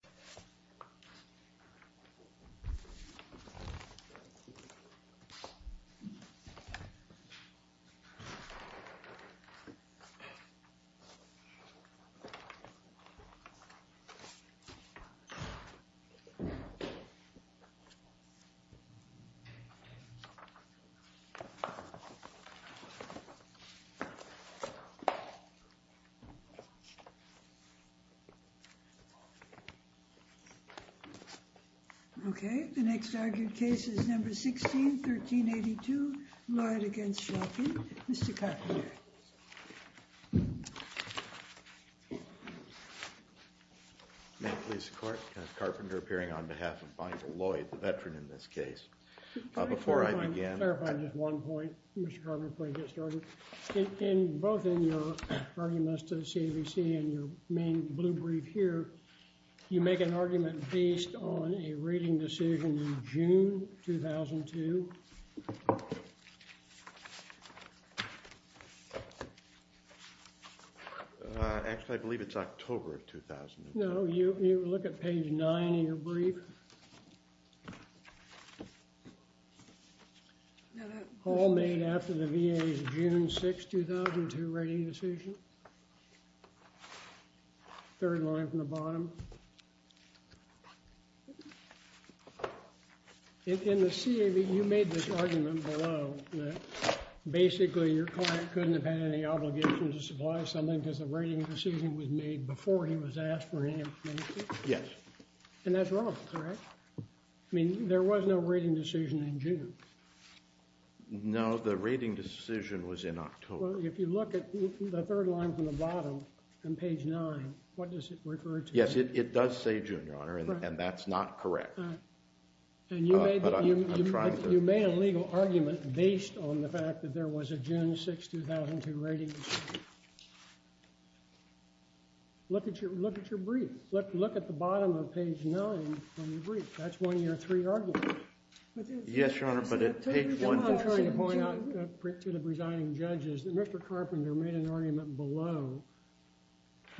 v. Shulkin v. Shulkin, Okay, the next argued case is number 16, 1382, Lloyd v. Shulkin. Mr. Carpenter. May it please the court, Carpenter appearing on behalf of Michael Lloyd, the veteran in this case. Before I begin, clarify just one point. Mr. Carpenter, please get started. In both in your arguments to the CAVC and your main blue brief here, you make an argument based on a reading decision in June 2002. Actually, I believe it's October of 2002. No, you look at page 9 in your brief. All made after the VA's June 6, 2002 rating decision. Third line from the bottom. In the CAV, you made this argument below that basically your client couldn't have had any obligation to supply something because the rating decision was made before he was asked for any information. Yes. And that's wrong, correct? I mean, there was no rating decision in June. No, the rating decision was in October. Well, if you look at the third line from the bottom on page 9, what does it refer to? Yes, it does say June, Your Honor, and that's not correct. And you made a legal argument based on the fact that there was a June 6, 2002 rating decision. Look at your brief. Look at the bottom of page 9 from your brief. That's one of your three arguments. Yes, Your Honor, but at page 1. I'm trying to point out to the presiding judges that Mr. Carpenter made an argument below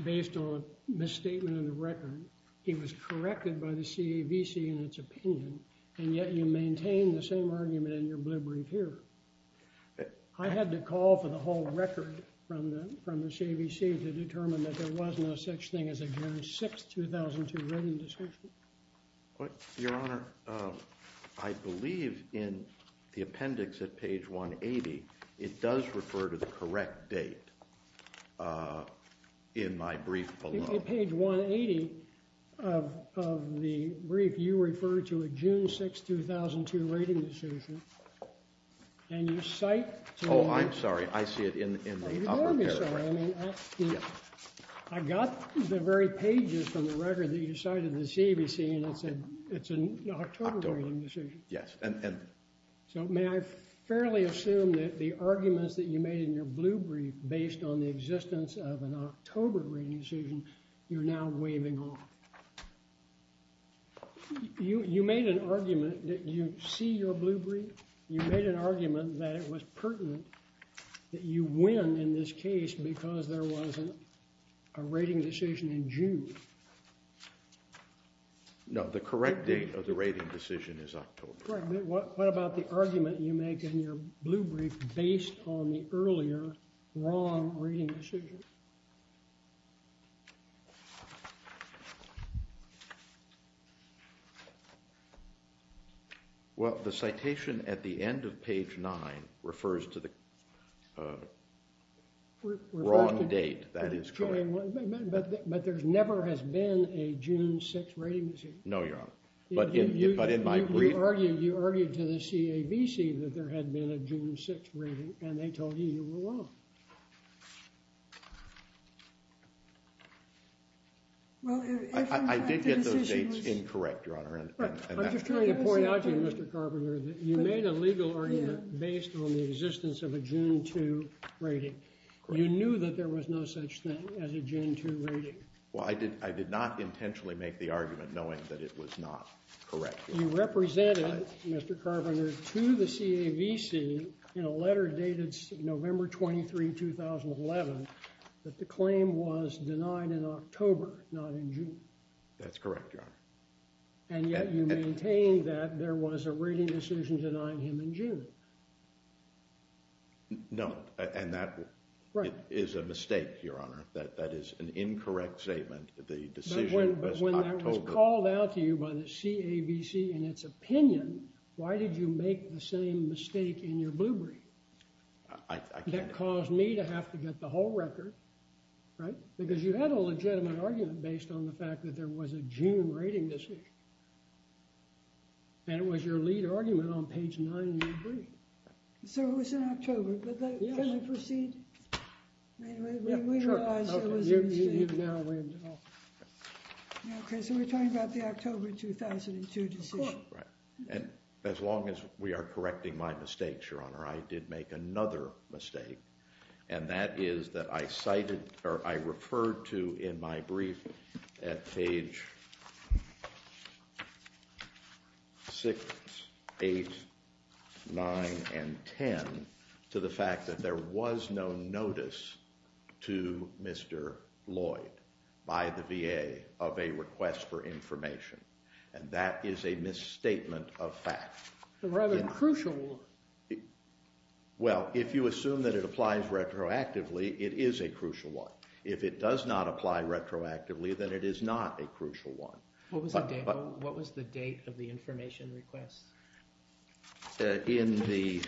based on a misstatement in the record. He was corrected by the CAVC in its opinion, and yet you maintain the same argument in your blue brief here. I had to call for the whole record from the CAVC to determine that there was no such thing as a June 6, 2002 rating decision. Your Honor, I believe in the appendix at page 180, it does refer to the correct date in my brief below. In page 180 of the brief, you referred to a June 6, 2002 rating decision, and you cite— Oh, I'm sorry. I see it in the upper paragraph. I got the very pages from the record that you cited in the CAVC, and it said it's an October rating decision. Yes. So may I fairly assume that the arguments that you made in your blue brief based on the existence of an October rating decision, you're now waving off? You made an argument that you see your blue brief. You made an argument that it was pertinent that you win in this case because there wasn't a rating decision in June. No, the correct date of the rating decision is October. What about the argument you make in your blue brief based on the earlier wrong rating decision? Well, the citation at the end of page 9 refers to the wrong date. That is correct. But there never has been a June 6 rating decision. No, Your Honor. But in my brief— You argued to the CAVC that there had been a June 6 rating, and they told you you were wrong. I did get those dates incorrect, Your Honor. I'm just trying to point out to you, Mr. Carpenter, that you made a legal argument based on the existence of a June 2 rating. You knew that there was no such thing as a June 2 rating. Well, I did not intentionally make the argument knowing that it was not correct. You represented, Mr. Carpenter, to the CAVC in a letter dated November 23, 2011, that the claim was denied in October, not in June. That's correct, Your Honor. And yet you maintained that there was a rating decision denying him in June. No, and that is a mistake, Your Honor. That is an incorrect statement. But when that was called out to you by the CAVC in its opinion, why did you make the same mistake in your blue brief? I can't— That caused me to have to get the whole record, right? Because you had a legitimate argument based on the fact that there was a June rating decision. And it was your lead argument on page 9 in your brief. So it was in October. Yes. Can we proceed? We realize it was a mistake. Okay, so we're talking about the October 2002 decision. Right. And as long as we are correcting my mistakes, Your Honor, I did make another mistake. And that is that I cited—or I referred to in my brief at page 6, 8, 9, and 10 to the fact that there was no notice to Mr. Lloyd by the VA of a request for information. And that is a misstatement of fact. Rather crucial. Well, if you assume that it applies retroactively, it is a crucial one. If it does not apply retroactively, then it is not a crucial one. What was the date of the information request? In the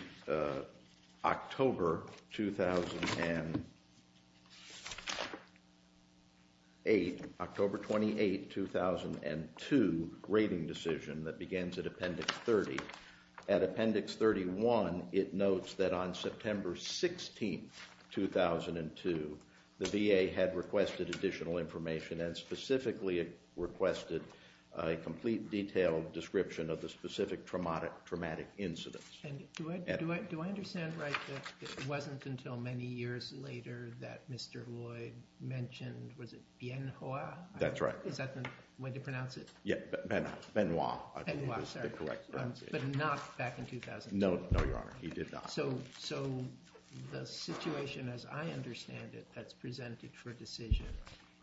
October 2008—October 28, 2002 rating decision that begins at Appendix 30, at Appendix 31, it notes that on September 16, 2002, the VA had requested additional information and specifically requested a complete detailed description of the specific traumatic incidents. Do I understand right that it wasn't until many years later that Mr. Lloyd mentioned—was it Bien Hoa? That's right. Is that the way to pronounce it? Yeah, Benoit, I believe, is the correct pronunciation. Benoit, sorry. But not back in 2002? No, Your Honor, he did not. So the situation as I understand it that's presented for decision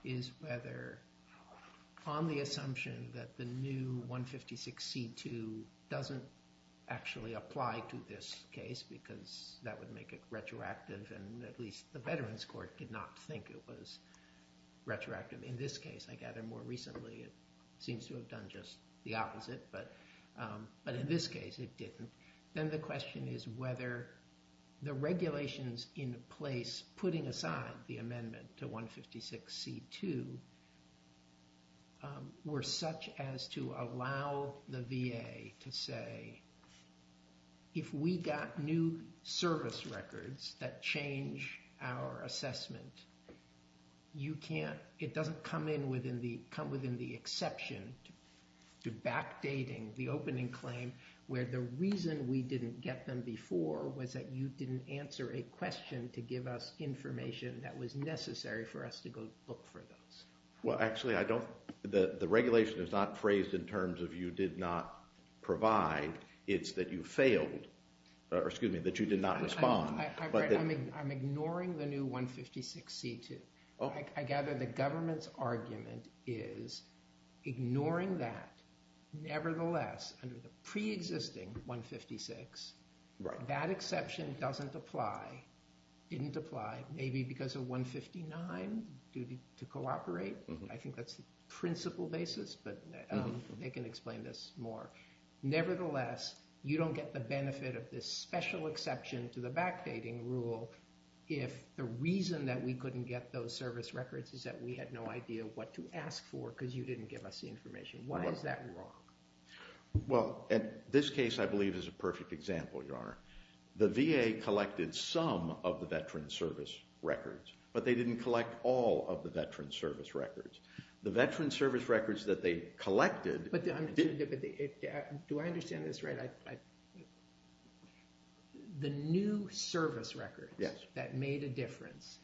is whether on the assumption that the new 156c2 doesn't actually apply to this case because that would make it retroactive and at least the Veterans Court did not think it was retroactive. In this case, I gather more recently, it seems to have done just the opposite. But in this case, it didn't. Then the question is whether the regulations in place putting aside the amendment to 156c2 were such as to allow the VA to say, if we got new service records that change our assessment, you can't—it doesn't come in within the exception to backdating the opening claim where the reason we didn't get them before was that you didn't answer a question to give us information that was necessary for us to go look for those. Well, actually, I don't—the regulation is not phrased in terms of you did not provide. It's that you failed or, excuse me, that you did not respond. I'm ignoring the new 156c2. I gather the government's argument is ignoring that. Nevertheless, under the preexisting 156, that exception doesn't apply. It didn't apply, maybe because of 159, duty to cooperate. I think that's the principal basis, but they can explain this more. Nevertheless, you don't get the benefit of this special exception to the backdating rule if the reason that we couldn't get those service records is that we had no idea what to ask for because you didn't give us the information. Why is that wrong? Well, this case, I believe, is a perfect example, Your Honor. The VA collected some of the veterans' service records, but they didn't collect all of the veterans' service records. The veterans' service records that they collected— But do I understand this right? The new service records that made a difference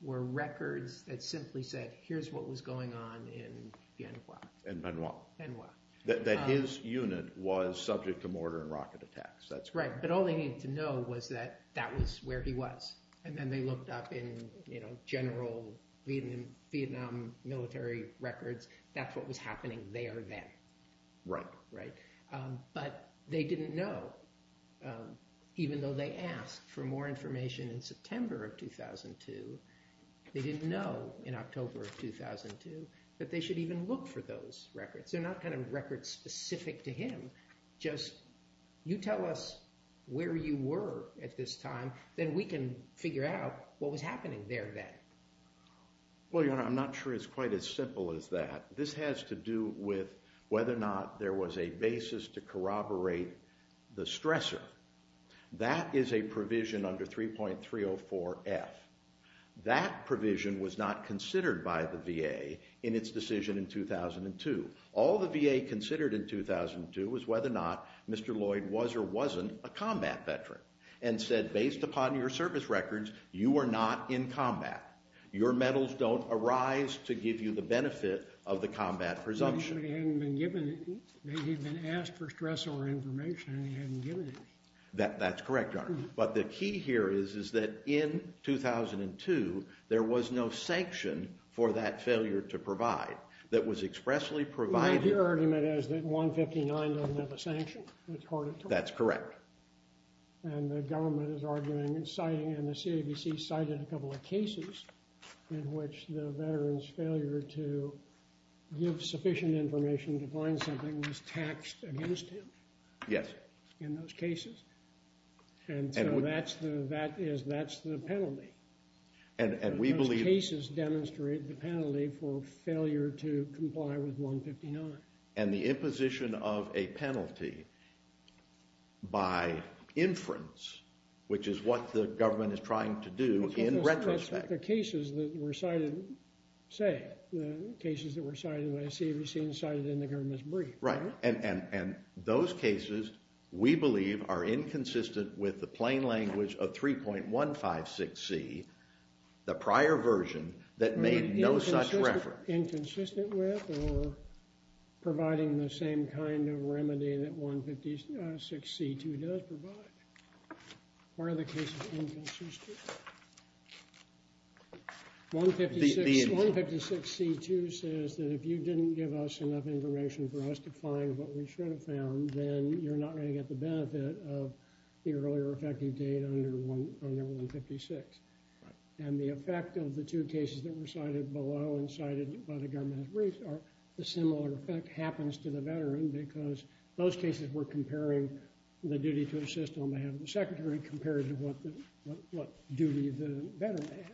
were records that simply said, here's what was going on in Bien Hoa. In Bien Hoa. Bien Hoa. That his unit was subject to mortar and rocket attacks. That's right, but all they needed to know was that that was where he was, and then they looked up in general Vietnam military records. That's what was happening there then. Right. Right. But they didn't know, even though they asked for more information in September of 2002, they didn't know in October of 2002 that they should even look for those records. They're not kind of records specific to him, just, you tell us where you were at this time, then we can figure out what was happening there then. Well, Your Honor, I'm not sure it's quite as simple as that. This has to do with whether or not there was a basis to corroborate the stressor. That is a provision under 3.304F. That provision was not considered by the VA in its decision in 2002. All the VA considered in 2002 was whether or not Mr. Lloyd was or wasn't a combat veteran and said, based upon your service records, you are not in combat. Your medals don't arise to give you the benefit of the combat presumption. But he hadn't been given it. He had been asked for stressor information and he hadn't given it. That's correct, Your Honor. But the key here is that in 2002, there was no sanction for that failure to provide that was expressly provided. Your argument is that 159 doesn't have a sanction. That's correct. And the government is arguing and the CABC cited a couple of cases in which the veteran's failure to give sufficient information to find something was taxed against him in those cases. And so that's the penalty. And we believe... Those cases demonstrate the penalty for failure to comply with 159. And the imposition of a penalty by inference, which is what the government is trying to do in retrospect... That's what the cases that were cited say. The cases that were cited by the CABC and cited in the government's brief. Right. And those cases, we believe, are inconsistent with the plain language of 3.156C, the prior version that made no such reference. Inconsistent with or providing the same kind of remedy that 156C2 does provide? Or are the cases inconsistent? 156C2 says that if you didn't give us enough information for us to find what we should have found, then you're not going to get the benefit of the earlier effective date under 156. Right. And the effect of the two cases that were cited below and cited by the government's brief, the similar effect happens to the veteran because those cases were comparing the duty to assist on behalf of the secretary compared to what duty the veteran had.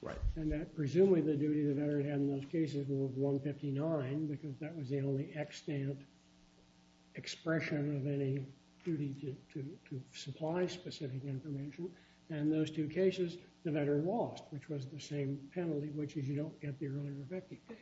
Right. And presumably the duty the veteran had in those cases was 159 because that was the only extant expression of any duty to supply specific information. And in those two cases, the veteran lost, which was the same penalty, which is you don't get the earlier effective date.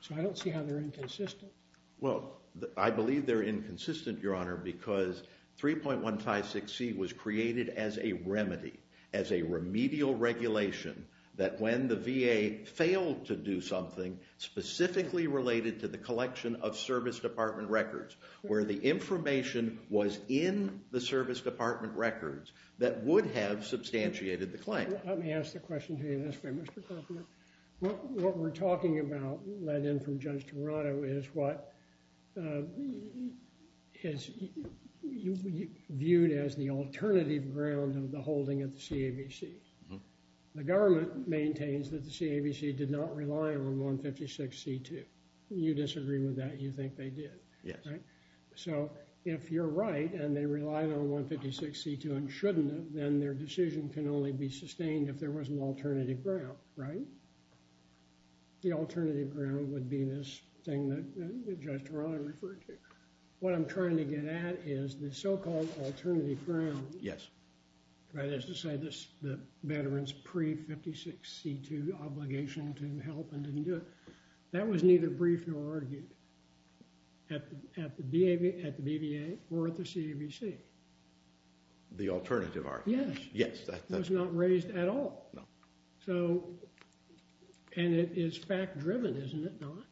So I don't see how they're inconsistent. Well, I believe they're inconsistent, Your Honor, because 3.156C was created as a remedy, as a remedial regulation, that when the VA failed to do something specifically related to the collection of service department records, where the information was in the service department records, that would have substantiated the claim. Let me ask the question to you this way, Mr. Kaufman. What we're talking about, led in from Judge Toronto, is what is viewed as the alternative ground of the holding of the CAVC. The government maintains that the CAVC did not rely on 156C2. You disagree with that. You think they did. Yes. So if you're right and they relied on 156C2 and shouldn't have, then their decision can only be sustained if there was an alternative ground, right? The alternative ground would be this thing that Judge Toronto referred to. What I'm trying to get at is the so-called alternative ground. Yes. That is to say the veteran's pre-156C2 obligation to help and didn't do it. That was neither briefed nor argued at the BVA or at the CAVC. The alternative argument. Yes. It was not raised at all. No. And it is fact-driven, isn't it, Don?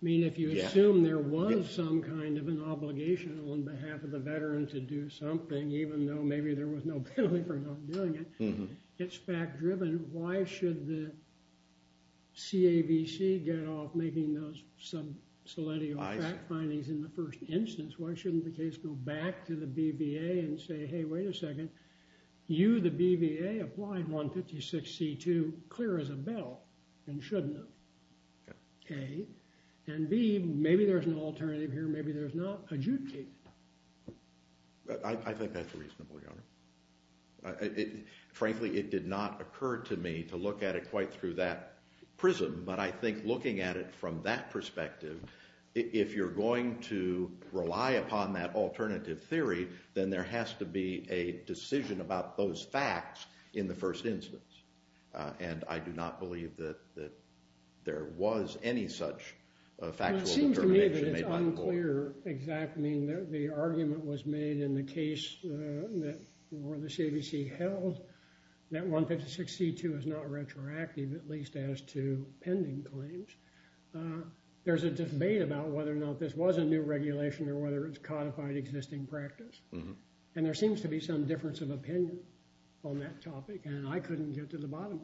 I mean, if you assume there was some kind of an obligation on behalf of the veteran to do something, even though maybe there was no penalty for not doing it, it's fact-driven. Why should the CAVC get off making those sub-soletio fact findings in the first instance? Why shouldn't the case go back to the BVA and say, hey, wait a second, you, the BVA, applied 156C2 clear as a bell and shouldn't have, A. And B, maybe there's an alternative here. Maybe there's not. Adjudicate it. I think that's reasonable, Your Honor. Frankly, it did not occur to me to look at it quite through that prism, but I think looking at it from that perspective, if you're going to rely upon that alternative theory, then there has to be a decision about those facts in the first instance. And I do not believe that there was any such factual determination made by the court. Well, it seems to me that it's unclear exactly that the argument was made in the case that the CAVC held that 156C2 is not retroactive, at least as to pending claims. There's a debate about whether or not this was a new regulation or whether it's codified existing practice. And there seems to be some difference of opinion on that topic, and I couldn't get to the bottom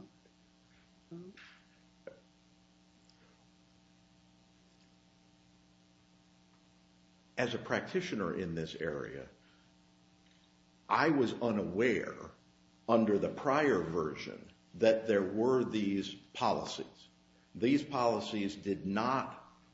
of it. As a practitioner in this area, I was unaware under the prior version that there were these policies. These policies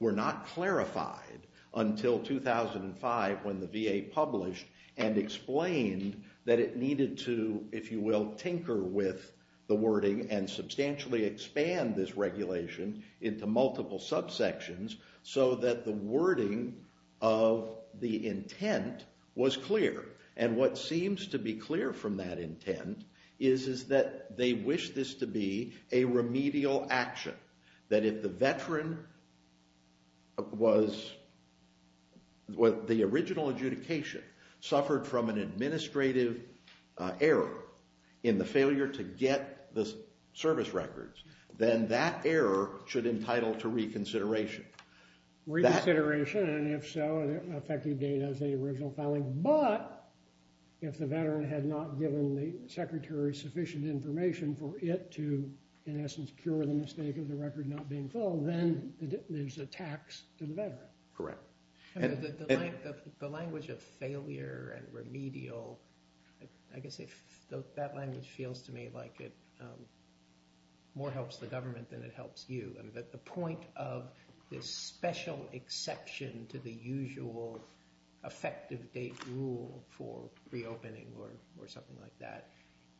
were not clarified until 2005 when the VA published and explained that it needed to, if you will, tinker with the wording and substantially expand this regulation into multiple subsections so that the wording of the intent was clear. And what seems to be clear from that intent is that they wish this to be a remedial action, that if the original adjudication suffered from an administrative error in the failure to get the service records, then that error should entitle to reconsideration. Reconsideration, and if so, effective date as the original filing. But if the veteran had not given the secretary sufficient information for it to, in essence, cure the mistake of the record not being filled, then there's a tax to the veteran. Correct. The language of failure and remedial, I guess that language feels to me like it more helps the government than it helps you. But the point of this special exception to the usual effective date rule for reopening or something like that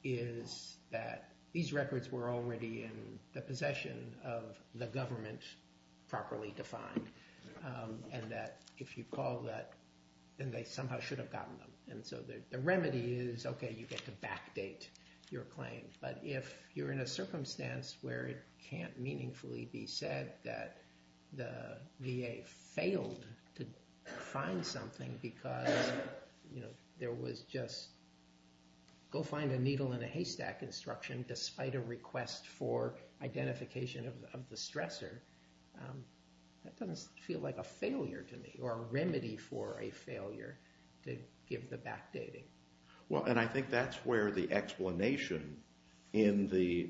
is that these records were already in the possession of the government, properly defined, and that if you call that, then they somehow should have gotten them. And so the remedy is, okay, you get to backdate your claim. But if you're in a circumstance where it can't meaningfully be said that the VA failed to find something because there was just go find a needle in a haystack instruction despite a request for identification of the stressor, that doesn't feel like a failure to me or a remedy for a failure to give the backdating. Well, and I think that's where the explanation in the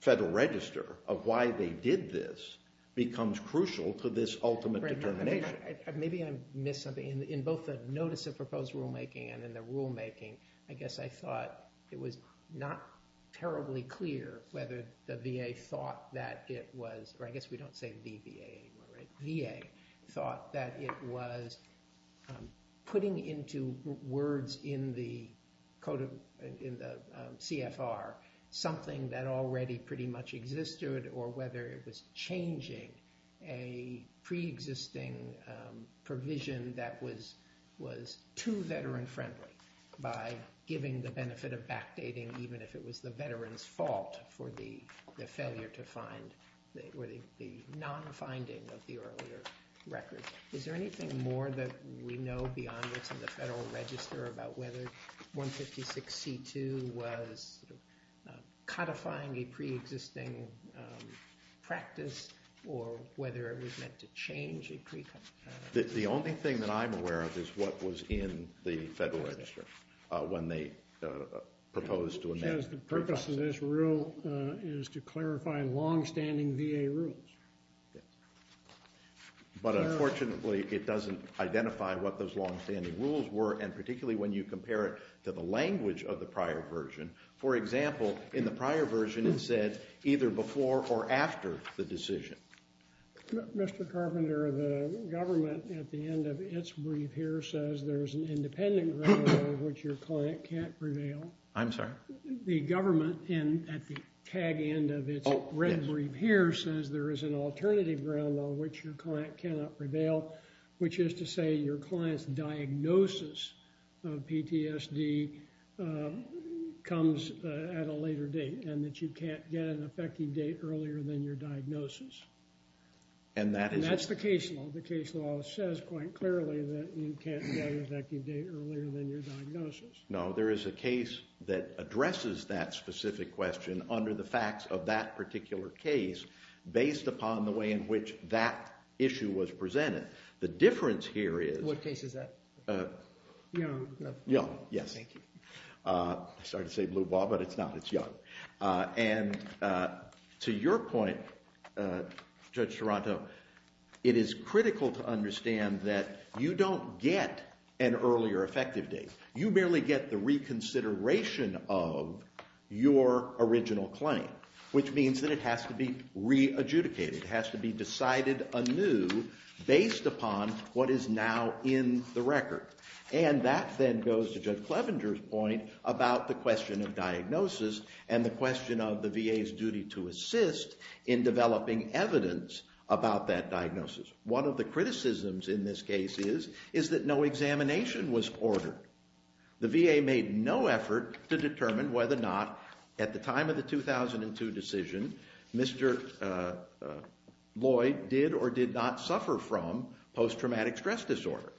Federal Register of why they did this becomes crucial to this ultimate determination. Maybe I missed something. In both the notice of proposed rulemaking and in the rulemaking, I guess I thought it was not terribly clear whether the VA thought that it was, or I guess we don't say the VA anymore, right? Putting into words in the CFR something that already pretty much existed or whether it was changing a preexisting provision that was too veteran-friendly by giving the benefit of backdating, even if it was the veteran's fault for the failure to find or the non-finding of the earlier record. Is there anything more that we know beyond what's in the Federal Register about whether 156C2 was codifying a preexisting practice or whether it was meant to change a preexisting practice? The only thing that I'm aware of is what was in the Federal Register when they proposed to amend it. It says the purpose of this rule is to clarify longstanding VA rules. But unfortunately, it doesn't identify what those longstanding rules were, and particularly when you compare it to the language of the prior version. For example, in the prior version, it said either before or after the decision. Mr. Carpenter, the government at the end of its brief here says there is an independent record of which your client can't prevail. I'm sorry? The government at the tag end of its red brief here says there is an alternative ground on which your client cannot prevail, which is to say your client's diagnosis of PTSD comes at a later date and that you can't get an effective date earlier than your diagnosis. And that's the case law. The case law says quite clearly that you can't get an effective date earlier than your diagnosis. No, there is a case that addresses that specific question under the facts of that particular case based upon the way in which that issue was presented. The difference here is... What case is that? Young. Young, yes. Thank you. Sorry to say blue ball, but it's not. It's young. And to your point, Judge Toronto, it is critical to understand that you don't get an earlier effective date. You merely get the reconsideration of your original claim, which means that it has to be re-adjudicated. It has to be decided anew based upon what is now in the record. And that then goes to Judge Clevenger's point about the question of diagnosis and the question of the VA's duty to assist in developing evidence about that diagnosis. One of the criticisms in this case is that no examination was ordered. The VA made no effort to determine whether or not, at the time of the 2002 decision, Mr. Lloyd did or did not suffer from post-traumatic stress disorder.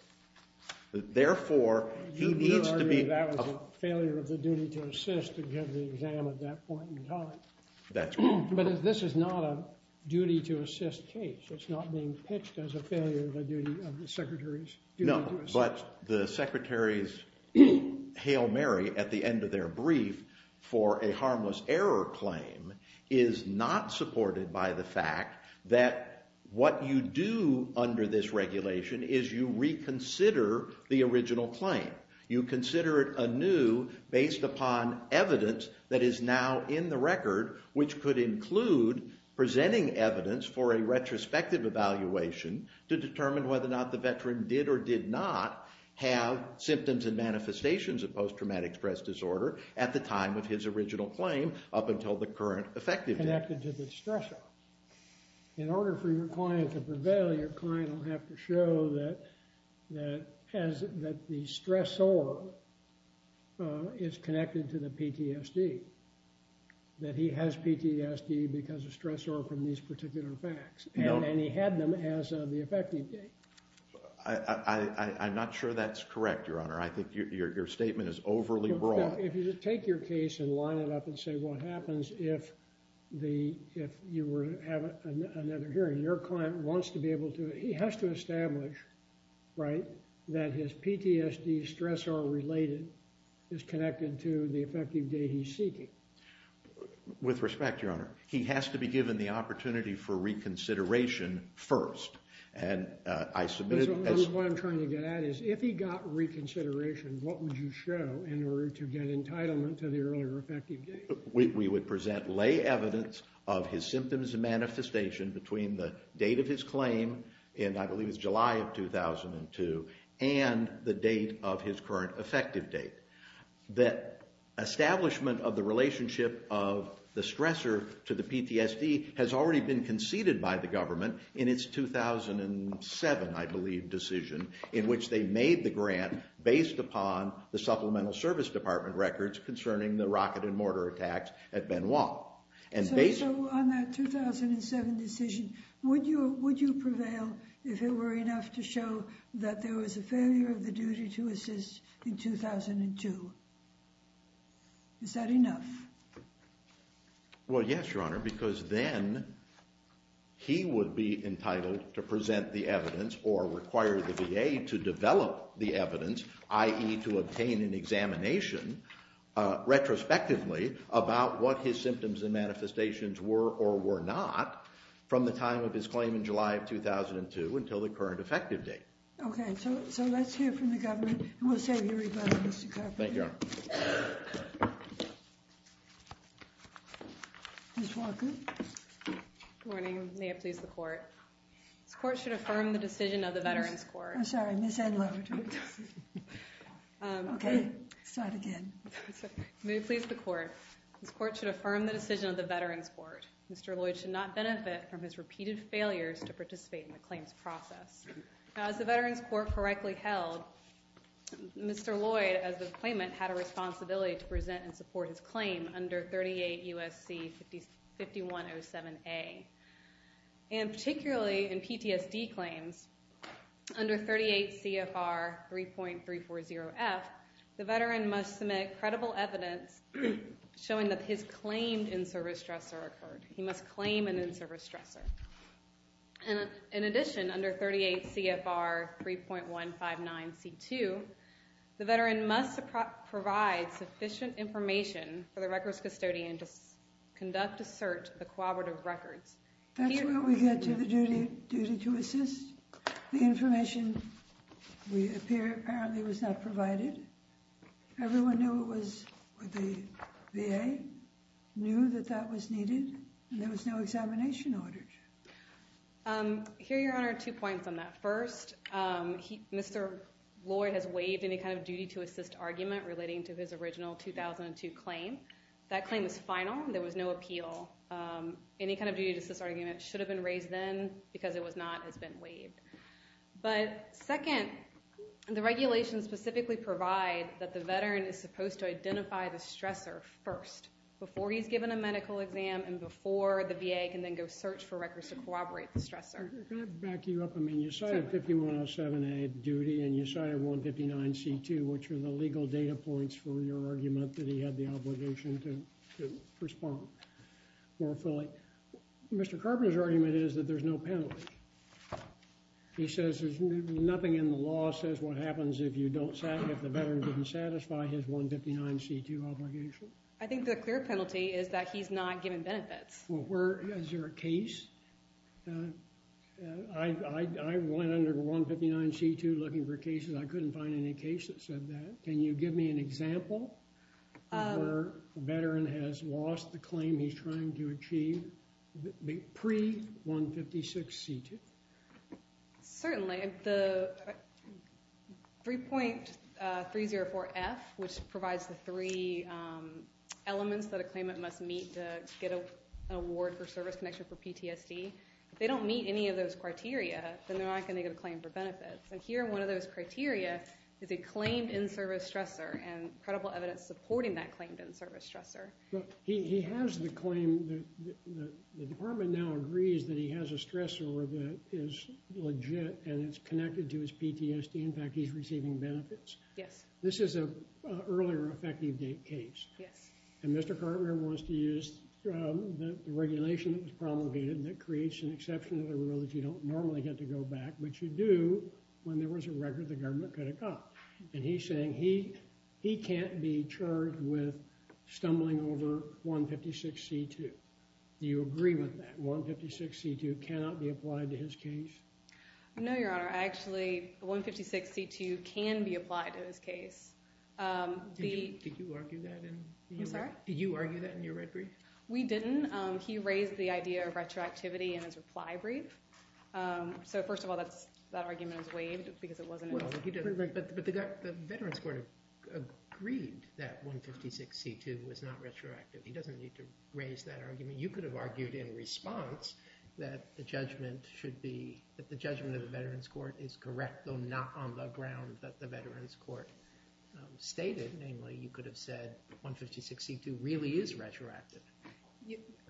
Therefore, he needs to be... You would argue that was a failure of the duty to assist to give the exam at that point in time. That's wrong. But this is not a duty to assist case. It's not being pitched as a failure of a duty of the Secretary's duty to assist. No, but the Secretary's Hail Mary at the end of their brief for a harmless error claim is not supported by the fact that what you do under this regulation is you reconsider the original claim. You consider it anew based upon evidence that is now in the record, which could include presenting evidence for a retrospective evaluation to determine whether or not the veteran did or did not have symptoms and manifestations of post-traumatic stress disorder at the time of his original claim up until the current effective date. Connected to the stressor. In order for your client to prevail, your client will have to show that the stressor is connected to the PTSD, that he has PTSD because of stressor from these particular facts. And he had them as of the effective date. I'm not sure that's correct, Your Honor. I think your statement is overly broad. If you take your case and line it up and say what happens if you were to have another hearing, your client wants to be able to... He has to establish, right, that his PTSD stressor related is connected to the effective date he's seeking. With respect, Your Honor, he has to be given the opportunity for reconsideration first. And I submitted... What I'm trying to get at is if he got reconsideration, what would you show in order to get entitlement to the earlier effective date? We would present lay evidence of his symptoms and manifestation between the date of his claim, and I believe it's July of 2002, and the date of his current effective date. The establishment of the relationship of the stressor to the PTSD has already been conceded by the government in its 2007, I believe, decision, in which they made the grant based upon the Supplemental Service Department records concerning the rocket and mortar attacks at Benoit. So on that 2007 decision, would you prevail if it were enough to show that there was a failure of the duty to assist in 2002? Is that enough? Well, yes, Your Honor, because then he would be entitled to present the evidence or require the VA to develop the evidence, i.e. to obtain an examination retrospectively about what his symptoms and manifestations were or were not from the time of his claim in July of 2002 until the current effective date. Okay, so let's hear from the government, and we'll save you a rebuttal, Mr. Carpenter. Thank you, Your Honor. Ms. Walker. Good morning. May it please the Court. This Court should affirm the decision of the Veterans Court. I'm sorry, Ms. Edler. Okay, start again. May it please the Court. This Court should affirm the decision of the Veterans Court. Mr. Lloyd should not benefit from his repeated failures to participate in the claims process. Now, as the Veterans Court correctly held, Mr. Lloyd, as the claimant, had a responsibility to present and support his claim under 38 U.S.C. 5107A. And particularly in PTSD claims under 38 CFR 3.340F, the veteran must submit credible evidence showing that his claimed in-service stressor occurred. He must claim an in-service stressor. In addition, under 38 CFR 3.159C2, the veteran must provide sufficient information for the records custodian to conduct a search of the cooperative records. That's where we get to the duty to assist. The information, apparently, was not provided. Everyone knew it was the VA knew that that was needed, and there was no examination ordered. Here, Your Honor, two points on that. First, Mr. Lloyd has waived any kind of duty to assist argument relating to his original 2002 claim. That claim is final. There was no appeal. Any kind of duty to assist argument should have been raised then because it was not has been waived. But second, the regulations specifically provide that the veteran is supposed to identify the stressor first, before he's given a medical exam and before the VA can then go search for records to corroborate the stressor. Can I back you up a minute? You cited 5107A, duty, and you cited 159C2, which are the legal data points for your argument that he had the obligation to respond more fully. Mr. Carpenter's argument is that there's no penalty. He says there's nothing in the law that says what happens if the veteran didn't satisfy his 159C2 obligation. I think the clear penalty is that he's not given benefits. Is there a case? I went under 159C2 looking for cases. I couldn't find any cases that said that. Can you give me an example where a veteran has lost the claim he's trying to achieve pre-156C2? Certainly. The 3.304F, which provides the three elements that a claimant must meet to get an award for service connection for PTSD, if they don't meet any of those criteria, then they're not going to get a claim for benefits. Here, one of those criteria is a claimed in-service stressor and credible evidence supporting that claimed in-service stressor. He has the claim. The department now agrees that he has a stressor that is legit and it's connected to his PTSD. In fact, he's receiving benefits. This is an earlier effective date case. And Mr. Carpenter wants to use the regulation that was promulgated that creates an exception to the rule that you don't normally get to go back, which you do when there was a record the government could have got. And he's saying he can't be charged with stumbling over 156C2. Do you agree with that? 156C2 cannot be applied to his case? No, Your Honor. Actually, 156C2 can be applied to his case. Did you argue that in your red brief? We didn't. He raised the idea of retroactivity in his reply brief. But the veterans court agreed that 156C2 was not retroactive. He doesn't need to raise that argument. You could have argued in response that the judgment should be that the judgment of the veterans court is correct, though not on the ground that the veterans court stated. Namely, you could have said 156C2 really is retroactive.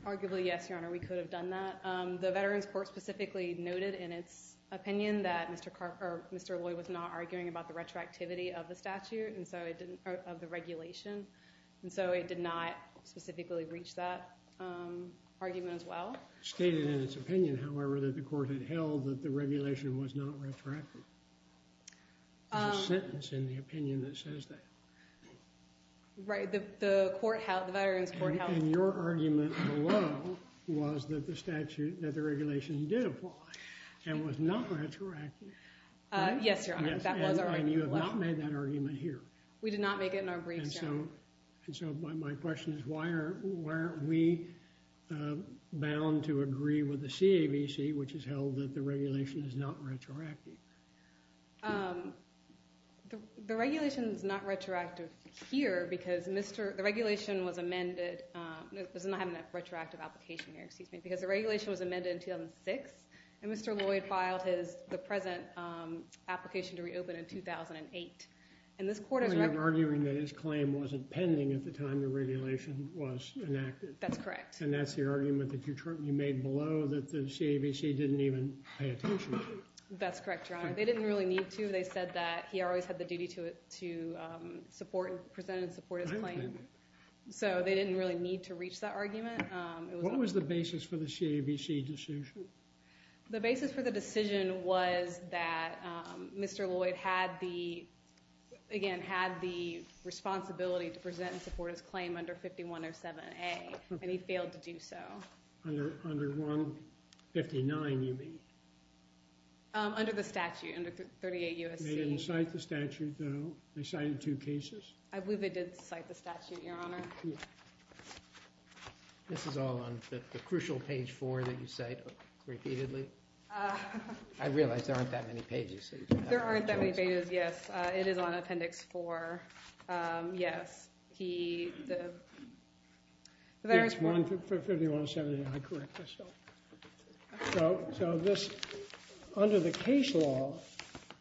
Arguably, yes, Your Honor. We could have done that. The veterans court specifically noted in its opinion that Mr. Loy was not arguing about the retroactivity of the regulation. And so it did not specifically reach that argument as well. It stated in its opinion, however, that the court had held that the regulation was not retroactive. There's a sentence in the opinion that says that. Right. The veterans court held that. And your argument below was that the regulation did apply and was not retroactive. Yes, Your Honor. That was our argument below. And you have not made that argument here. We did not make it in our briefs, Your Honor. And so my question is, why aren't we bound to agree with the CAVC, which has held that the regulation is not retroactive? The regulation is not retroactive here because the regulation was amended. I'm not having that retroactive application here, excuse me. Because the regulation was amended in 2006. And Mr. Loy filed the present application to reopen in 2008. And this court is recovering. You're arguing that his claim wasn't pending at the time the regulation was enacted. That's correct. And that's the argument that you made below, that the CAVC didn't even pay attention to it. That's correct, Your Honor. They didn't really need to. They said that he always had the duty to present and support his claim. So they didn't really need to reach that argument. What was the basis for the CAVC decision? The basis for the decision was that Mr. Loy had the, again, had the responsibility to present and support his claim under 5107A. And he failed to do so. Under 159, you mean? Under the statute, under 38 U.S.C. They didn't cite the statute, though? They cited two cases? I believe they did cite the statute, Your Honor. This is all on the crucial page 4 that you cite repeatedly. I realize there aren't that many pages. There aren't that many pages, yes. It is on Appendix 4. Yes. He, the, the veterans. 5107A, I correct myself. So this, under the case law,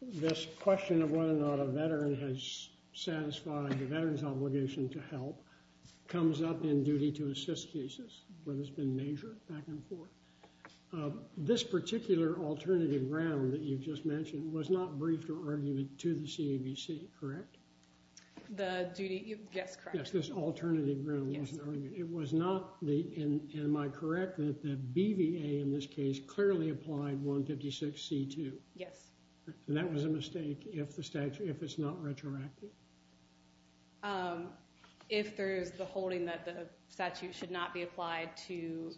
this question of whether or not a veteran has satisfied the veteran's obligation to help comes up in duty to assist cases, whether it's been measured back and forth. This particular alternative ground that you just mentioned was not briefed or argued to the CAVC, correct? The duty, yes, correct. Yes, this alternative ground wasn't argued. It was not the, and am I correct that the BVA in this case clearly applied 156C2? Yes. And that was a mistake if the statute, if it's not retroactive? If there is the holding that the statute should not be applied to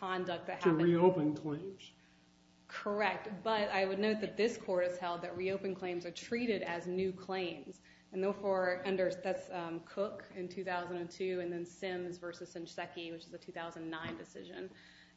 conduct that happened. To reopen claims. Correct. But I would note that this court has held that reopen claims are treated as new claims. And therefore, under, that's Cook in 2002 and then Sims versus Nishiseki, which is a 2009 decision.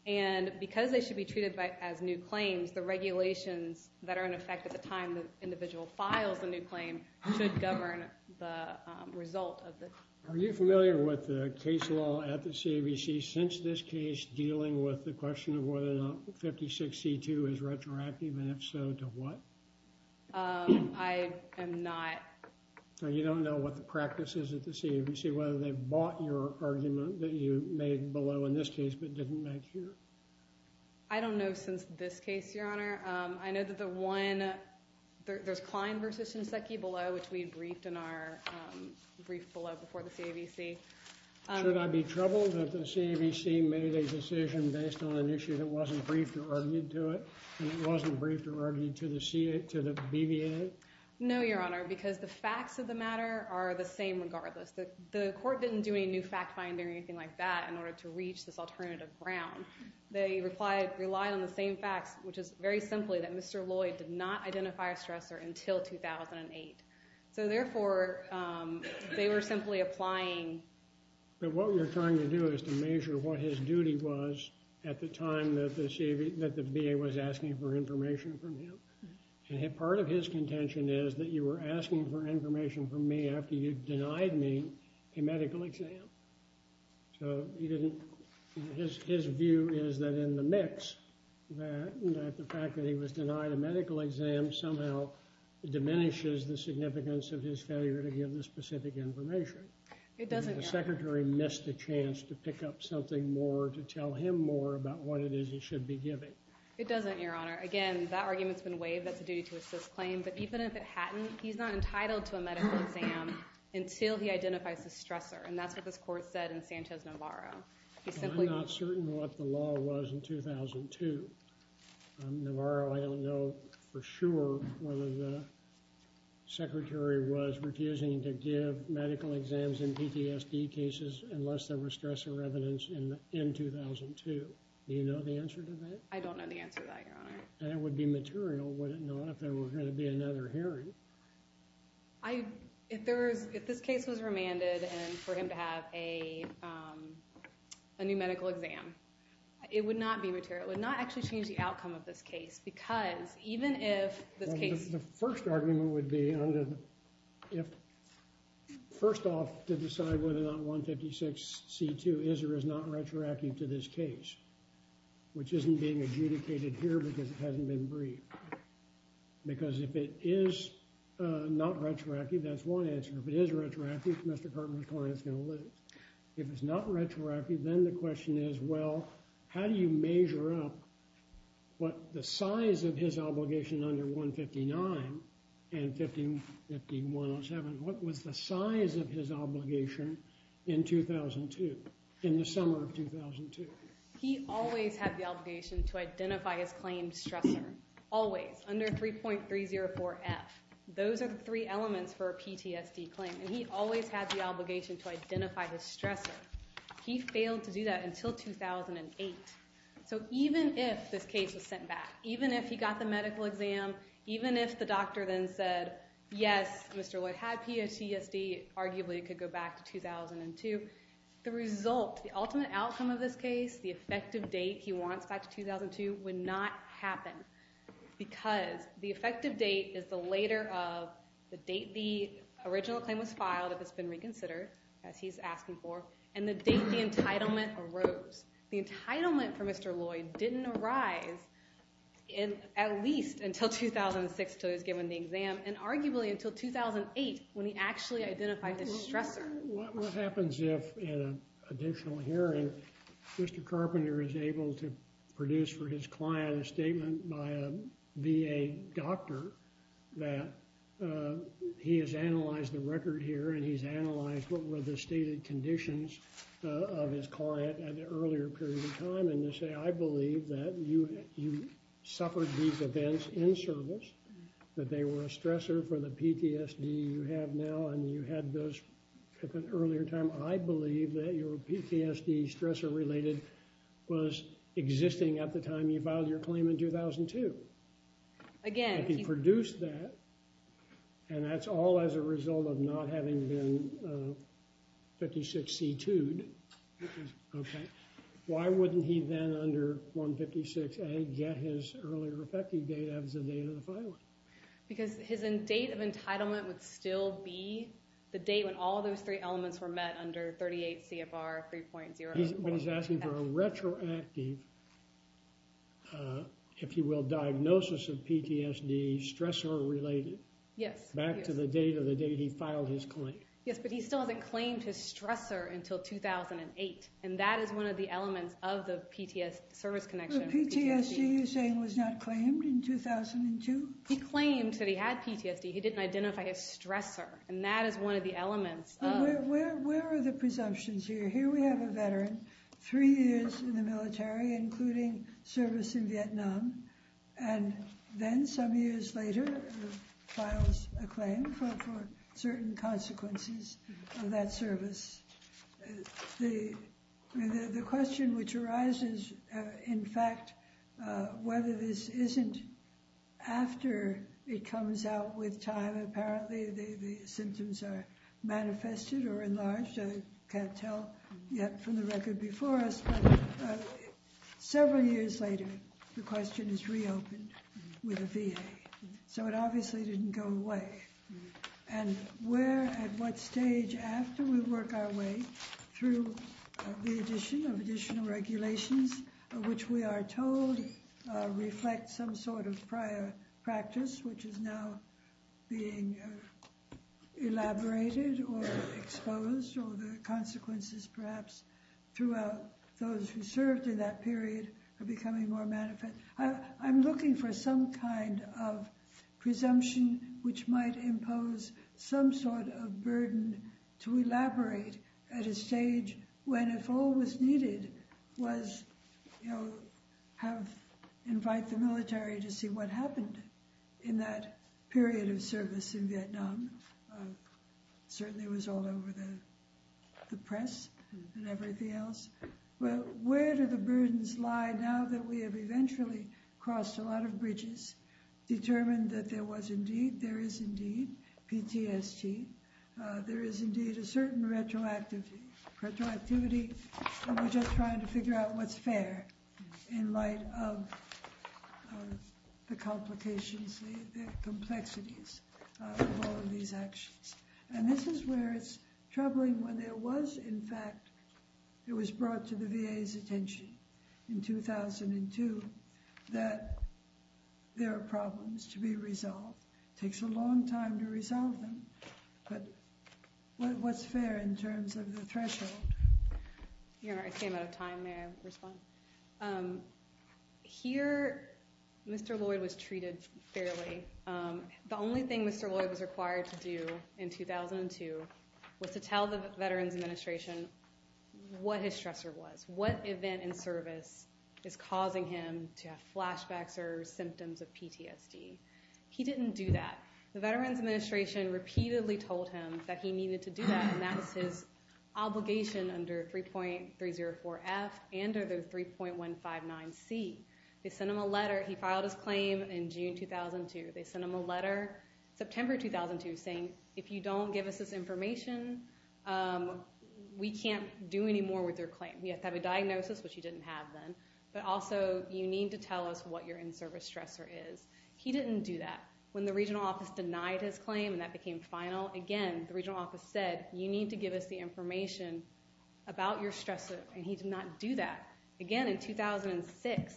And because they should be treated as new claims, the regulations that are in effect at the time the individual files a new claim should govern the result of it. Are you familiar with the case law at the CAVC since this case dealing with the question of whether or not 156C2 is retroactive, and if so, to what? I am not. So you don't know what the practice is at the CAVC, whether they bought your argument that you made below in this case but didn't make here? I don't know since this case, Your Honor. I know that the one, there's Klein versus Nishiseki below, which we briefed in our brief below before the CAVC. Should I be troubled that the CAVC made a decision based on an issue that wasn't briefed or argued to it, and it wasn't briefed or argued to the BVA? No, Your Honor, because the facts of the matter are the same regardless. The court didn't do any new fact-finding or anything like that in order to reach this alternative ground. They relied on the same facts, which is very simply that Mr. Lloyd did not identify a stressor until 2008. So therefore, they were simply applying. But what you're trying to do is to measure what his duty was at the time that the VA was asking for information from him. And part of his contention is that you were asking for information from me after you denied me a medical exam. So he didn't, his view is that in the mix, that the fact that he was denied a medical exam somehow diminishes the significance of his failure to give the specific information. It doesn't, Your Honor. The Secretary missed a chance to pick up something more, to tell him more about what it is he should be giving. It doesn't, Your Honor. Again, that argument's been waived. That's a duty to assist claim. But even if it hadn't, he's not entitled to a medical exam until he identifies the stressor. And that's what this court said in Sanchez-Navarro. I'm not certain what the law was in 2002. Navarro, I don't know for sure whether the Secretary was refusing to give medical exams in PTSD cases unless there was stressor evidence in 2002. Do you know the answer to that? I don't know the answer to that, Your Honor. And it would be material, would it not, if there were going to be another hearing? I, if there was, if this case was remanded and for him to have a new medical exam, it would not be material. It would not actually change the outcome of this case because even if this case... The first argument would be if, first off, to decide whether or not 156C2 is or is not retroactive to this case, which isn't being adjudicated here because it hasn't been briefed. Because if it is not retroactive, that's one answer. If it is retroactive, Mr. Cartman's client's going to lose. If it's not retroactive, then the question is, well, how do you measure up what the size of his obligation under 159 and 15107, what was the size of his obligation in 2002, in the summer of 2002? He always had the obligation to identify his claimed stressor. Always, under 3.304F. Those are the three elements for a PTSD claim, and he always had the obligation to identify his stressor. He failed to do that until 2008. So even if this case was sent back, even if he got the medical exam, even if the doctor then said, yes, Mr. Lloyd had PTSD, arguably it could go back to 2002, the result, the ultimate outcome of this case, the effective date he wants back to 2002, would not happen. Because the effective date is the later of the date the original claim was filed, if it's been reconsidered, as he's asking for, and the date the entitlement arose. The entitlement for Mr. Lloyd didn't arise at least until 2006, until he was given the exam, and arguably until 2008, when he actually identified the stressor. What happens if, in an additional hearing, Mr. Carpenter is able to produce for his client a statement by a VA doctor that he has analyzed the record here, and he's analyzed what were the stated conditions of his client at an earlier period of time, and you say, I believe that you suffered these events in service, that they were a stressor for the PTSD you have now, and you had those at an earlier time. I believe that your PTSD stressor-related was existing at the time you filed your claim in 2002. If he produced that, and that's all as a result of not having been 56C2'd, why wouldn't he then, under 156A, get his earlier effective date as the date of the filing? Because his date of entitlement would still be the date when all those three elements were met under 38 CFR 3.0. But he's asking for a retroactive, if you will, diagnosis of PTSD, stressor-related, back to the date of the date he filed his claim. Yes, but he still hasn't claimed his stressor until 2008, and that is one of the elements of the PTSD service connection. So PTSD, you're saying, was not claimed in 2002? He claimed that he had PTSD. He didn't identify a stressor, and that is one of the elements of... Where are the presumptions here? Here we have a veteran, three years in the military, including service in Vietnam, and then some years later files a claim for certain consequences of that service. The question which arises, in fact, whether this isn't after it comes out with time, apparently the symptoms are manifested or enlarged, I can't tell yet from the record before us, but several years later, the question is reopened with a VA. So it obviously didn't go away. And where, at what stage, after we work our way through the addition of additional regulations of which we are told reflect some sort of prior practice which is now being elaborated or exposed, or the consequences perhaps throughout those who served in that period are becoming more manifest. I'm looking for some kind of presumption which might impose some sort of burden to elaborate at a stage when if all was needed was, you know, have... invite the military to see what happened in that period of service in Vietnam. Certainly it was all over the press and everything else. But where do the burdens lie now that we have eventually crossed a lot of bridges, determined that there was indeed, there is indeed PTSD, there is indeed a certain retroactivity and we're just trying to figure out what's fair in light of the complications, the complexities of all of these actions. And this is where it's troubling when there was, in fact, it was brought to the VA's attention in 2002 that there are problems to be resolved. It takes a long time to resolve them. But what's fair in terms of the threshold? You know, I came out of time. May I respond? Here, Mr. Lloyd was treated fairly. The only thing Mr. Lloyd was required to do in 2002 was to tell the Veterans Administration what his stressor was. What event in service is causing him to have flashbacks or symptoms of PTSD. He didn't do that. The Veterans Administration repeatedly told him that he needed to do that and that was his obligation under 3.304F and under 3.159C. They sent him a letter. He filed his claim in June 2002. They sent him a letter September 2002 saying, if you don't give us this information, we can't do anymore with your claim. You have to have a diagnosis, which you didn't have then, but also you need to tell us what your in-service stressor is. He didn't do that. When the regional office denied his claim and that became final, again, the regional office said, you need to give us the information about your stressor and he did not do that. Again, in 2006,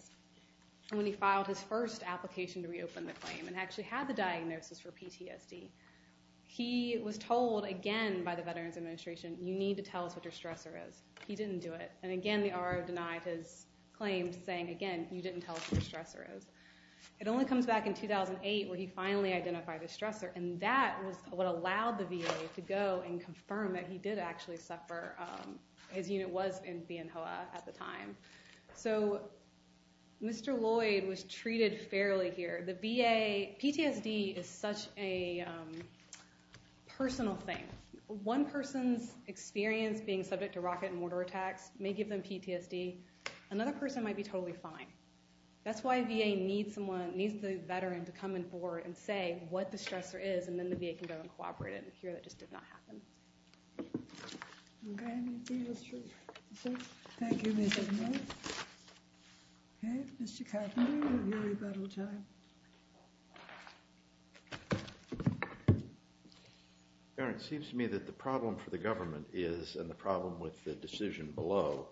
when he filed his first application to reopen the claim and actually had the diagnosis for PTSD, he was told again by the Veterans Administration, you need to tell us what your stressor is. He didn't do it. And again, the RO denied his claim saying, again, you didn't tell us what your stressor is. It only comes back in 2008 when he finally identified his stressor and that was what allowed the VA to go and confirm that he did actually suffer. His unit was in Bien Hoa at the time. So Mr. Lloyd was treated fairly here. The VA, PTSD is such a personal thing. One person's experience being subject to rocket and mortar attacks may give them PTSD. Another person might be totally fine. That's why VA needs someone, needs the Veteran to come forward and say what the stressor is and then the VA can go and cooperate. Here, that just did not happen. Okay, I think that's true. Thank you, Ms. McMillan. Okay, Mr. Catherine, you have your rebuttal time. Karen, it seems to me that the problem for the government is, and the problem with the decision below,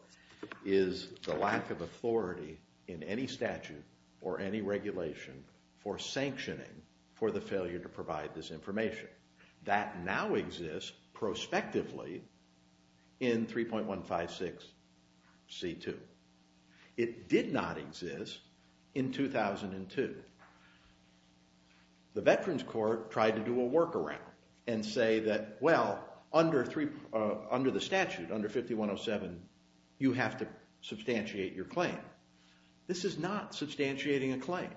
is the lack of authority in any statute or any regulation for sanctioning for the failure to provide this information. That now exists prospectively in 3.156C2. It did not exist in 2002. The Veterans Court tried to do a workaround and say that, well, under the statute, under 5107, you have to substantiate your claim. This is not substantiating a claim.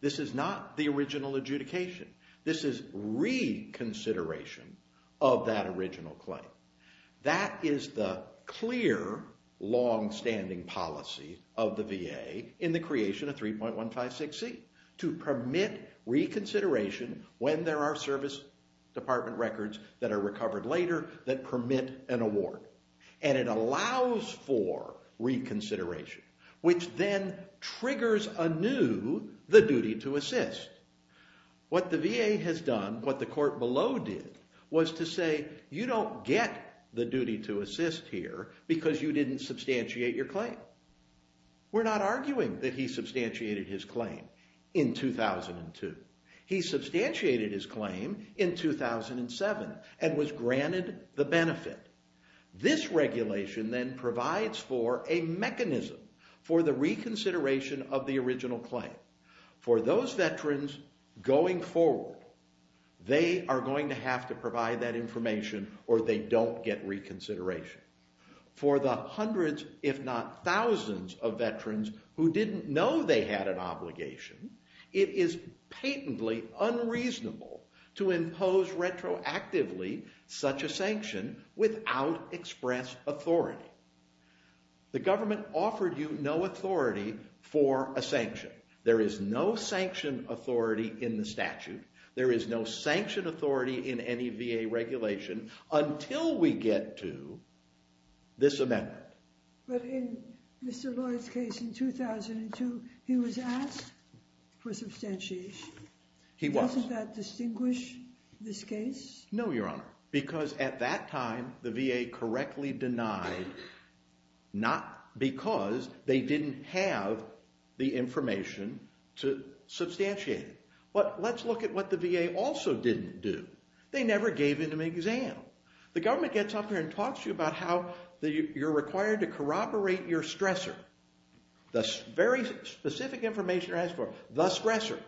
This is not the original adjudication. This is reconsideration of that original claim. That is the clear, long-standing policy of the VA in the creation of 3.156C to permit reconsideration when there are Service Department records that are recovered later that permit an award. And it allows for reconsideration, which then triggers anew the duty to assist. What the VA has done, what the court below did, was to say, you don't get the duty to assist here because you didn't substantiate your claim. We're not arguing that he substantiated his claim in 2002. He substantiated his claim in 2007 and was granted the benefit. This regulation then provides for a mechanism for the reconsideration of the original claim. For those veterans going forward, they are going to have to provide that information or they don't get reconsideration. For the hundreds, if not thousands, of veterans who didn't know they had an obligation, it is patently unreasonable to impose retroactively such a sanction without express authority. The government offered you no authority for a sanction. There is no sanction authority in the statute. There is no sanction authority in any VA regulation until we get to this amendment. But in Mr. Lloyd's case in 2002, he was asked for substantiation. He was. Doesn't that distinguish this case? No, Your Honor, because at that time, the VA correctly denied not because they didn't have the information to substantiate it. But let's look at what the VA also didn't do. They never gave him an exam. The government gets up here and talks to you about how you're required to corroborate your stressor. The very specific information you're asked for, the stressor,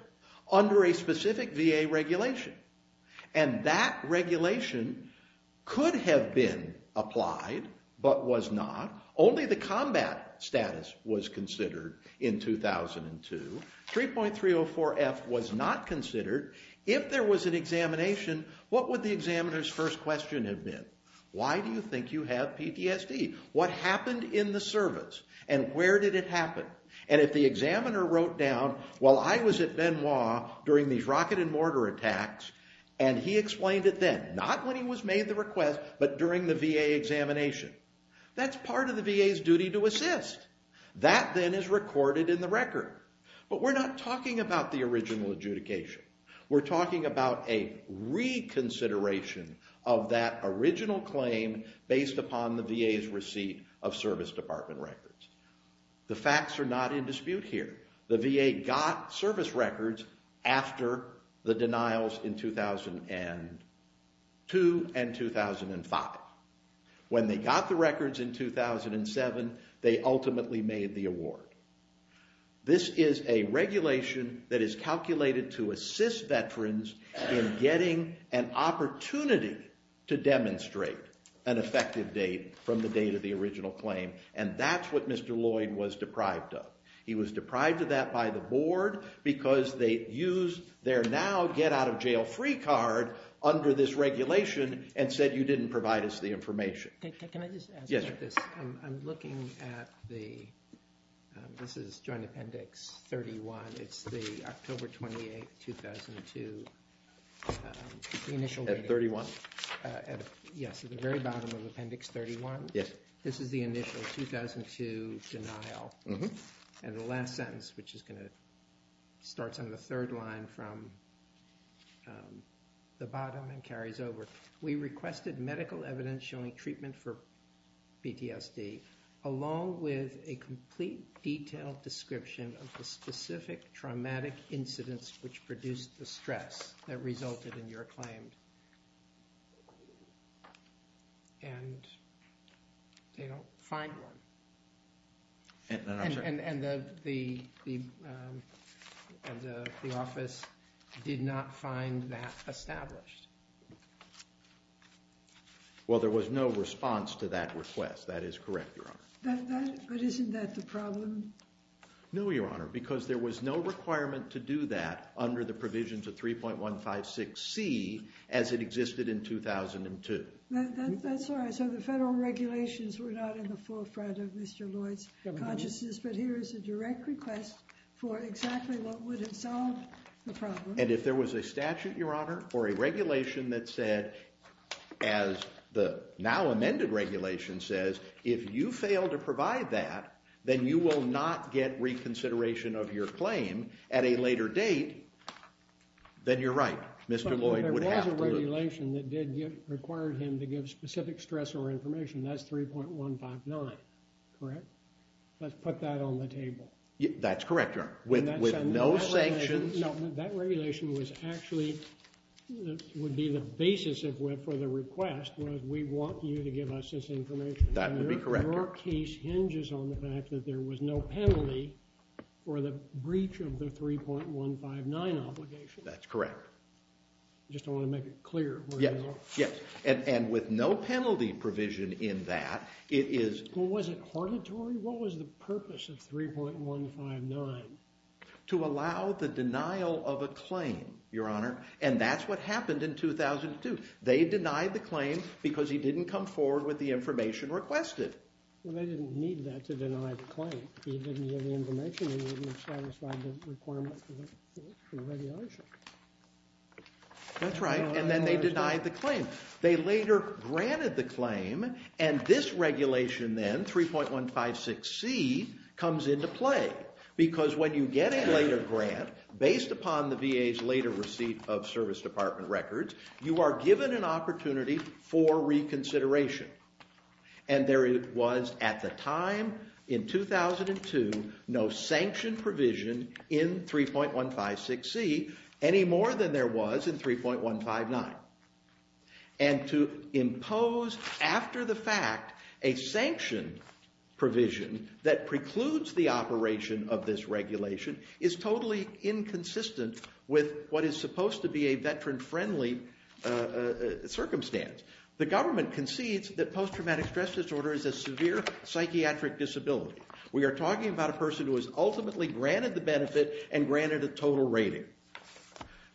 under a specific VA regulation. And that regulation could have been applied, but was not. Only the combat status was considered in 2002. 3.304F was not considered. If there was an examination, what would the examiner's first question have been? Why do you think you have PTSD? What happened in the service? And where did it happen? And if the examiner wrote down, while I was at Benoit during these rocket and mortar attacks, and he explained it then, not when he was made the request, but during the VA examination, that's part of the VA's duty to assist. That then is recorded in the record. But we're not talking about the original adjudication. We're talking about a reconsideration of that original claim based upon the VA's receipt of service department records. The facts are not in dispute here. The VA got service records after the denials in 2002 and 2005. When they got the records in 2007, they ultimately made the award. This is a regulation that is calculated to assist veterans in getting an opportunity to demonstrate an effective date from the date of the original claim. And that's what Mr. Lloyd was deprived of. He was deprived of that by the board because they used their now get-out-of-jail-free card under this regulation and said you didn't provide us the information. Can I just add something to this? Yes. I'm looking at the... This is Joint Appendix 31. It's the October 28, 2002... At 31. Yes, at the very bottom of Appendix 31. Yes. This is the initial 2002 denial. And the last sentence, which is going to start on the third line from the bottom and carries over. We requested medical evidence showing treatment for PTSD along with a complete detailed description of the specific traumatic incidents which produced the stress that resulted in your claim. And they don't find one. And the office did not find that established. Well, there was no response to that request. That is correct, Your Honor. No, Your Honor, because there was no requirement to do that under the provisions of 3.156C as it existed in 2002. That's all right. So the federal regulations were not in the forefront of Mr. Lloyd's consciousness. But here is a direct request for exactly what would have solved the problem. And if there was a statute, Your Honor, or a regulation that said, as the now amended regulation says, if you fail to provide that, then you will not get reconsideration of your claim at a later date, then you're right. Mr. Lloyd would have to. But there was a regulation that did require him to give specific stressor information. That's 3.159, correct? Let's put that on the table. That's correct, Your Honor. With no sanctions. No, that regulation was actually, would be the basis for the request, was we want you to give us this information. That would be correct. Your case hinges on the fact that there was no penalty for the breach of the 3.159 obligation. That's correct. I just don't want to make it clear. Yes, yes. And with no penalty provision in that, it is... Was it auditory? What was the purpose of 3.159? To allow the denial of a claim, Your Honor. And that's what happened in 2002. They denied the claim because he didn't come forward with the information requested. Well, they didn't need that to deny the claim. If he didn't give the information, he wouldn't have satisfied the requirements for the regulation. That's right. And then they denied the claim. They later granted the claim. And this regulation then, 3.156C, comes into play. Because when you get a later grant, based upon the VA's later receipt of service department records, you are given an opportunity for reconsideration. And there was, at the time, in 2002, no sanction provision in 3.156C any more than there was in 3.159. And to impose, after the fact, a sanction provision that precludes the operation of this regulation is totally inconsistent with what is supposed to be a veteran-friendly circumstance. The government concedes that post-traumatic stress disorder is a severe psychiatric disability. We are talking about a person who was ultimately granted the benefit and granted a total rating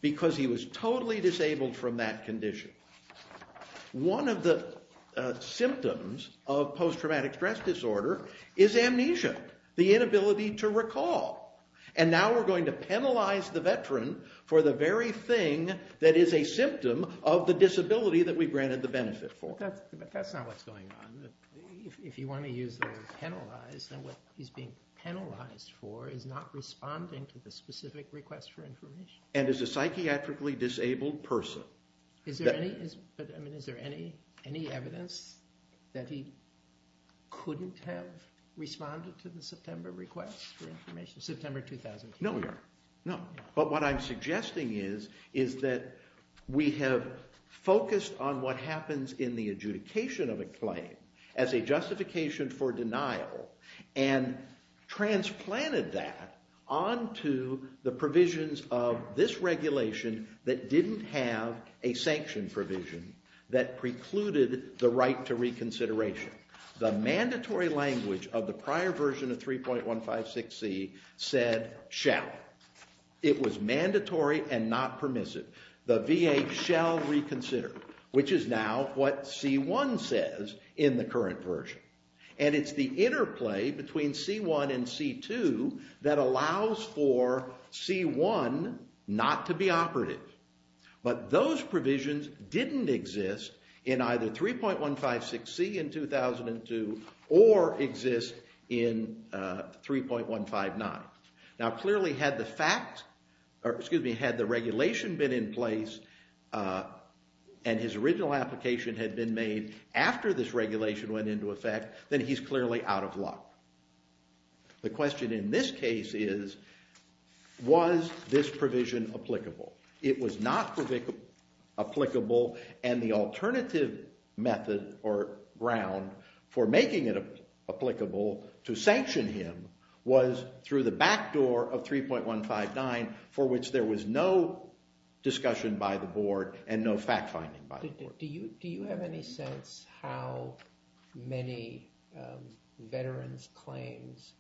because he was totally disabled from that condition. One of the symptoms of post-traumatic stress disorder is amnesia, the inability to recall. And now we're going to penalize the veteran for the very thing that is a symptom of the disability that we granted the benefit for. But that's not what's going on. If you want to use the word penalize, then what he's being penalized for is not responding to the specific request for information. And is a psychiatrically disabled person. Is there any evidence that he couldn't have responded to the September request for information? September 2002. No, there aren't. But what I'm suggesting is that we have focused on what happens in the adjudication of a claim as a justification for denial and transplanted that onto the provisions of this regulation that didn't have a sanction provision that precluded the right to reconsideration. The mandatory language of the prior version of 3.156c said shall. It was mandatory and not permissive. The VA shall reconsider. Which is now what C1 says in the current version. And it's the interplay between C1 and C2 that allows for C1 not to be operative. But those provisions didn't exist in either 3.156c in 2002 or exist in 3.159. Now clearly had the regulation been in place and his original application had been made after this regulation went into effect then he's clearly out of luck. The question in this case is was this provision applicable? It was not applicable and the alternative method or ground for making it applicable to sanction him was through the back door of 3.159 for which there was no discussion by the board and no fact finding by the board. Do you have any sense how many veterans' claims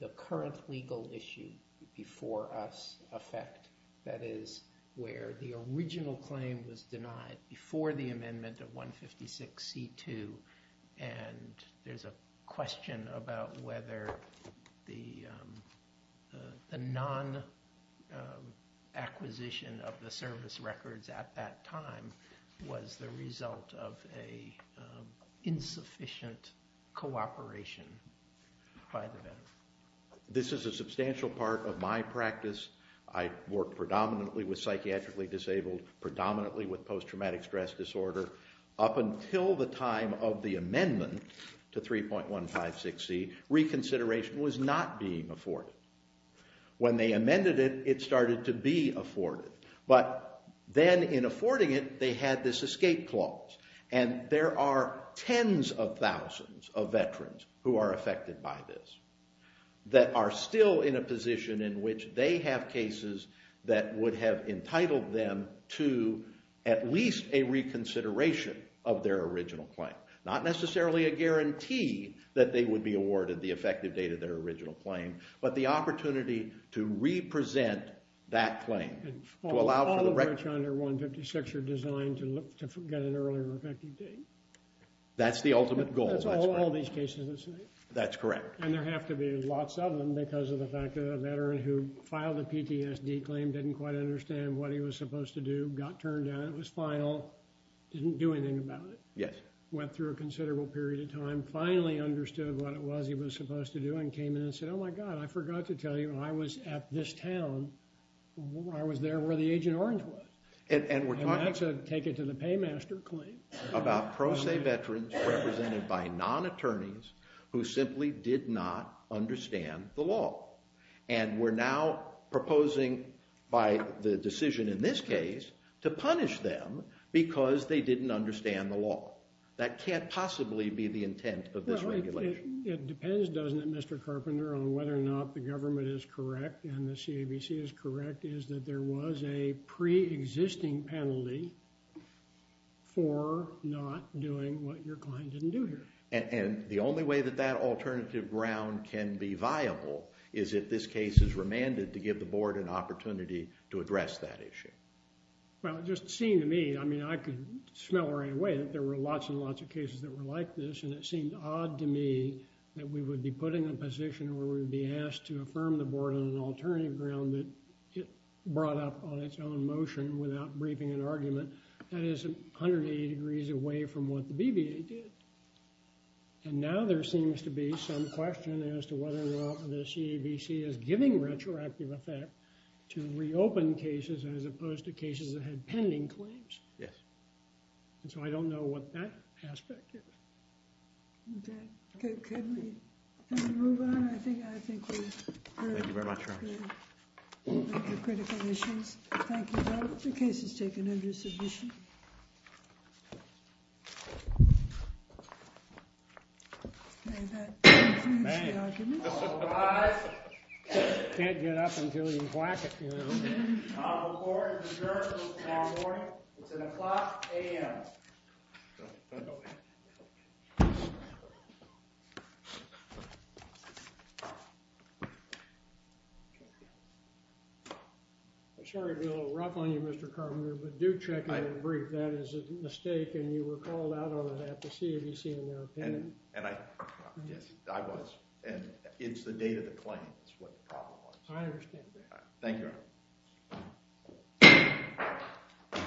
the current legal issue before us affect? That is, where the original claim was denied before the amendment of 3.156c2 and there's a question about whether the non-acquisition of the service records at that time was the result of an insufficient cooperation by the veteran. This is a substantial part of my practice. I work predominantly with psychiatrically disabled predominantly with post-traumatic stress disorder. Up until the time of the amendment to 3.156c reconsideration was not being afforded. When they amended it, it started to be afforded but then in affording it they had this escape clause and there are tens of thousands of veterans who are affected by this that are still in a position in which they have cases that would have entitled them to at least a reconsideration of their original claim. Not necessarily a guarantee that they would be awarded the effective date of their original claim but the opportunity to represent that claim. All of which under 3.156c2 are designed to get an earlier effective date. That's the ultimate goal. That's all these cases. That's correct. And there have to be lots of them because of the fact that a veteran who filed a PTSD claim didn't quite understand what he was supposed to do got turned down. It was final. Didn't do anything about it. Went through a considerable period of time. Finally understood what it was he was supposed to do and came in and said, oh my god, I forgot to tell you when I was at this town I was there where the Agent Orange was. And that's a take it to the paymaster claim. About pro se veterans represented by non-attorneys who simply did not understand the law. And we're now proposing by the decision in this case to punish them because they didn't understand the law. That can't possibly be the intent of this regulation. It depends, doesn't it, Mr. Carpenter, on whether or not the government is correct and the CABC is correct is that there was a pre-existing penalty for not doing what your client didn't do here. And the only way that that alternative ground can be viable is if this case is remanded to give the board an opportunity to address that issue. Well, it just seemed to me, I mean, I could smell right away that there were lots and lots of cases that were like this and it seemed odd to me that we would be put in a position where we would be asked to affirm the board on an alternative ground that it brought up on its own motion without briefing an argument that is 180 degrees away from what the BBA did. And now there seems to be some question as to whether or not the CABC is giving retroactive effect to reopen cases as opposed to cases that had pending claims. Yes. And so I don't know what that aspect is. Okay. Can we move on? I think we've heard the critical issues. Thank you, Your Honor. The case is taken under submission. May that conclude the argument. All rise. Can't get up until you whack it, you know. The court is adjourned until tomorrow morning. It's at o'clock a.m. I'm sorry to be a little rough on you, Mr. Carpenter, but do check out the brief. That is a mistake and you were called out on that to see if you see it in their opinion. And I was. And it's the date of the claim is what the problem was. I understand that. Thank you, Your Honor.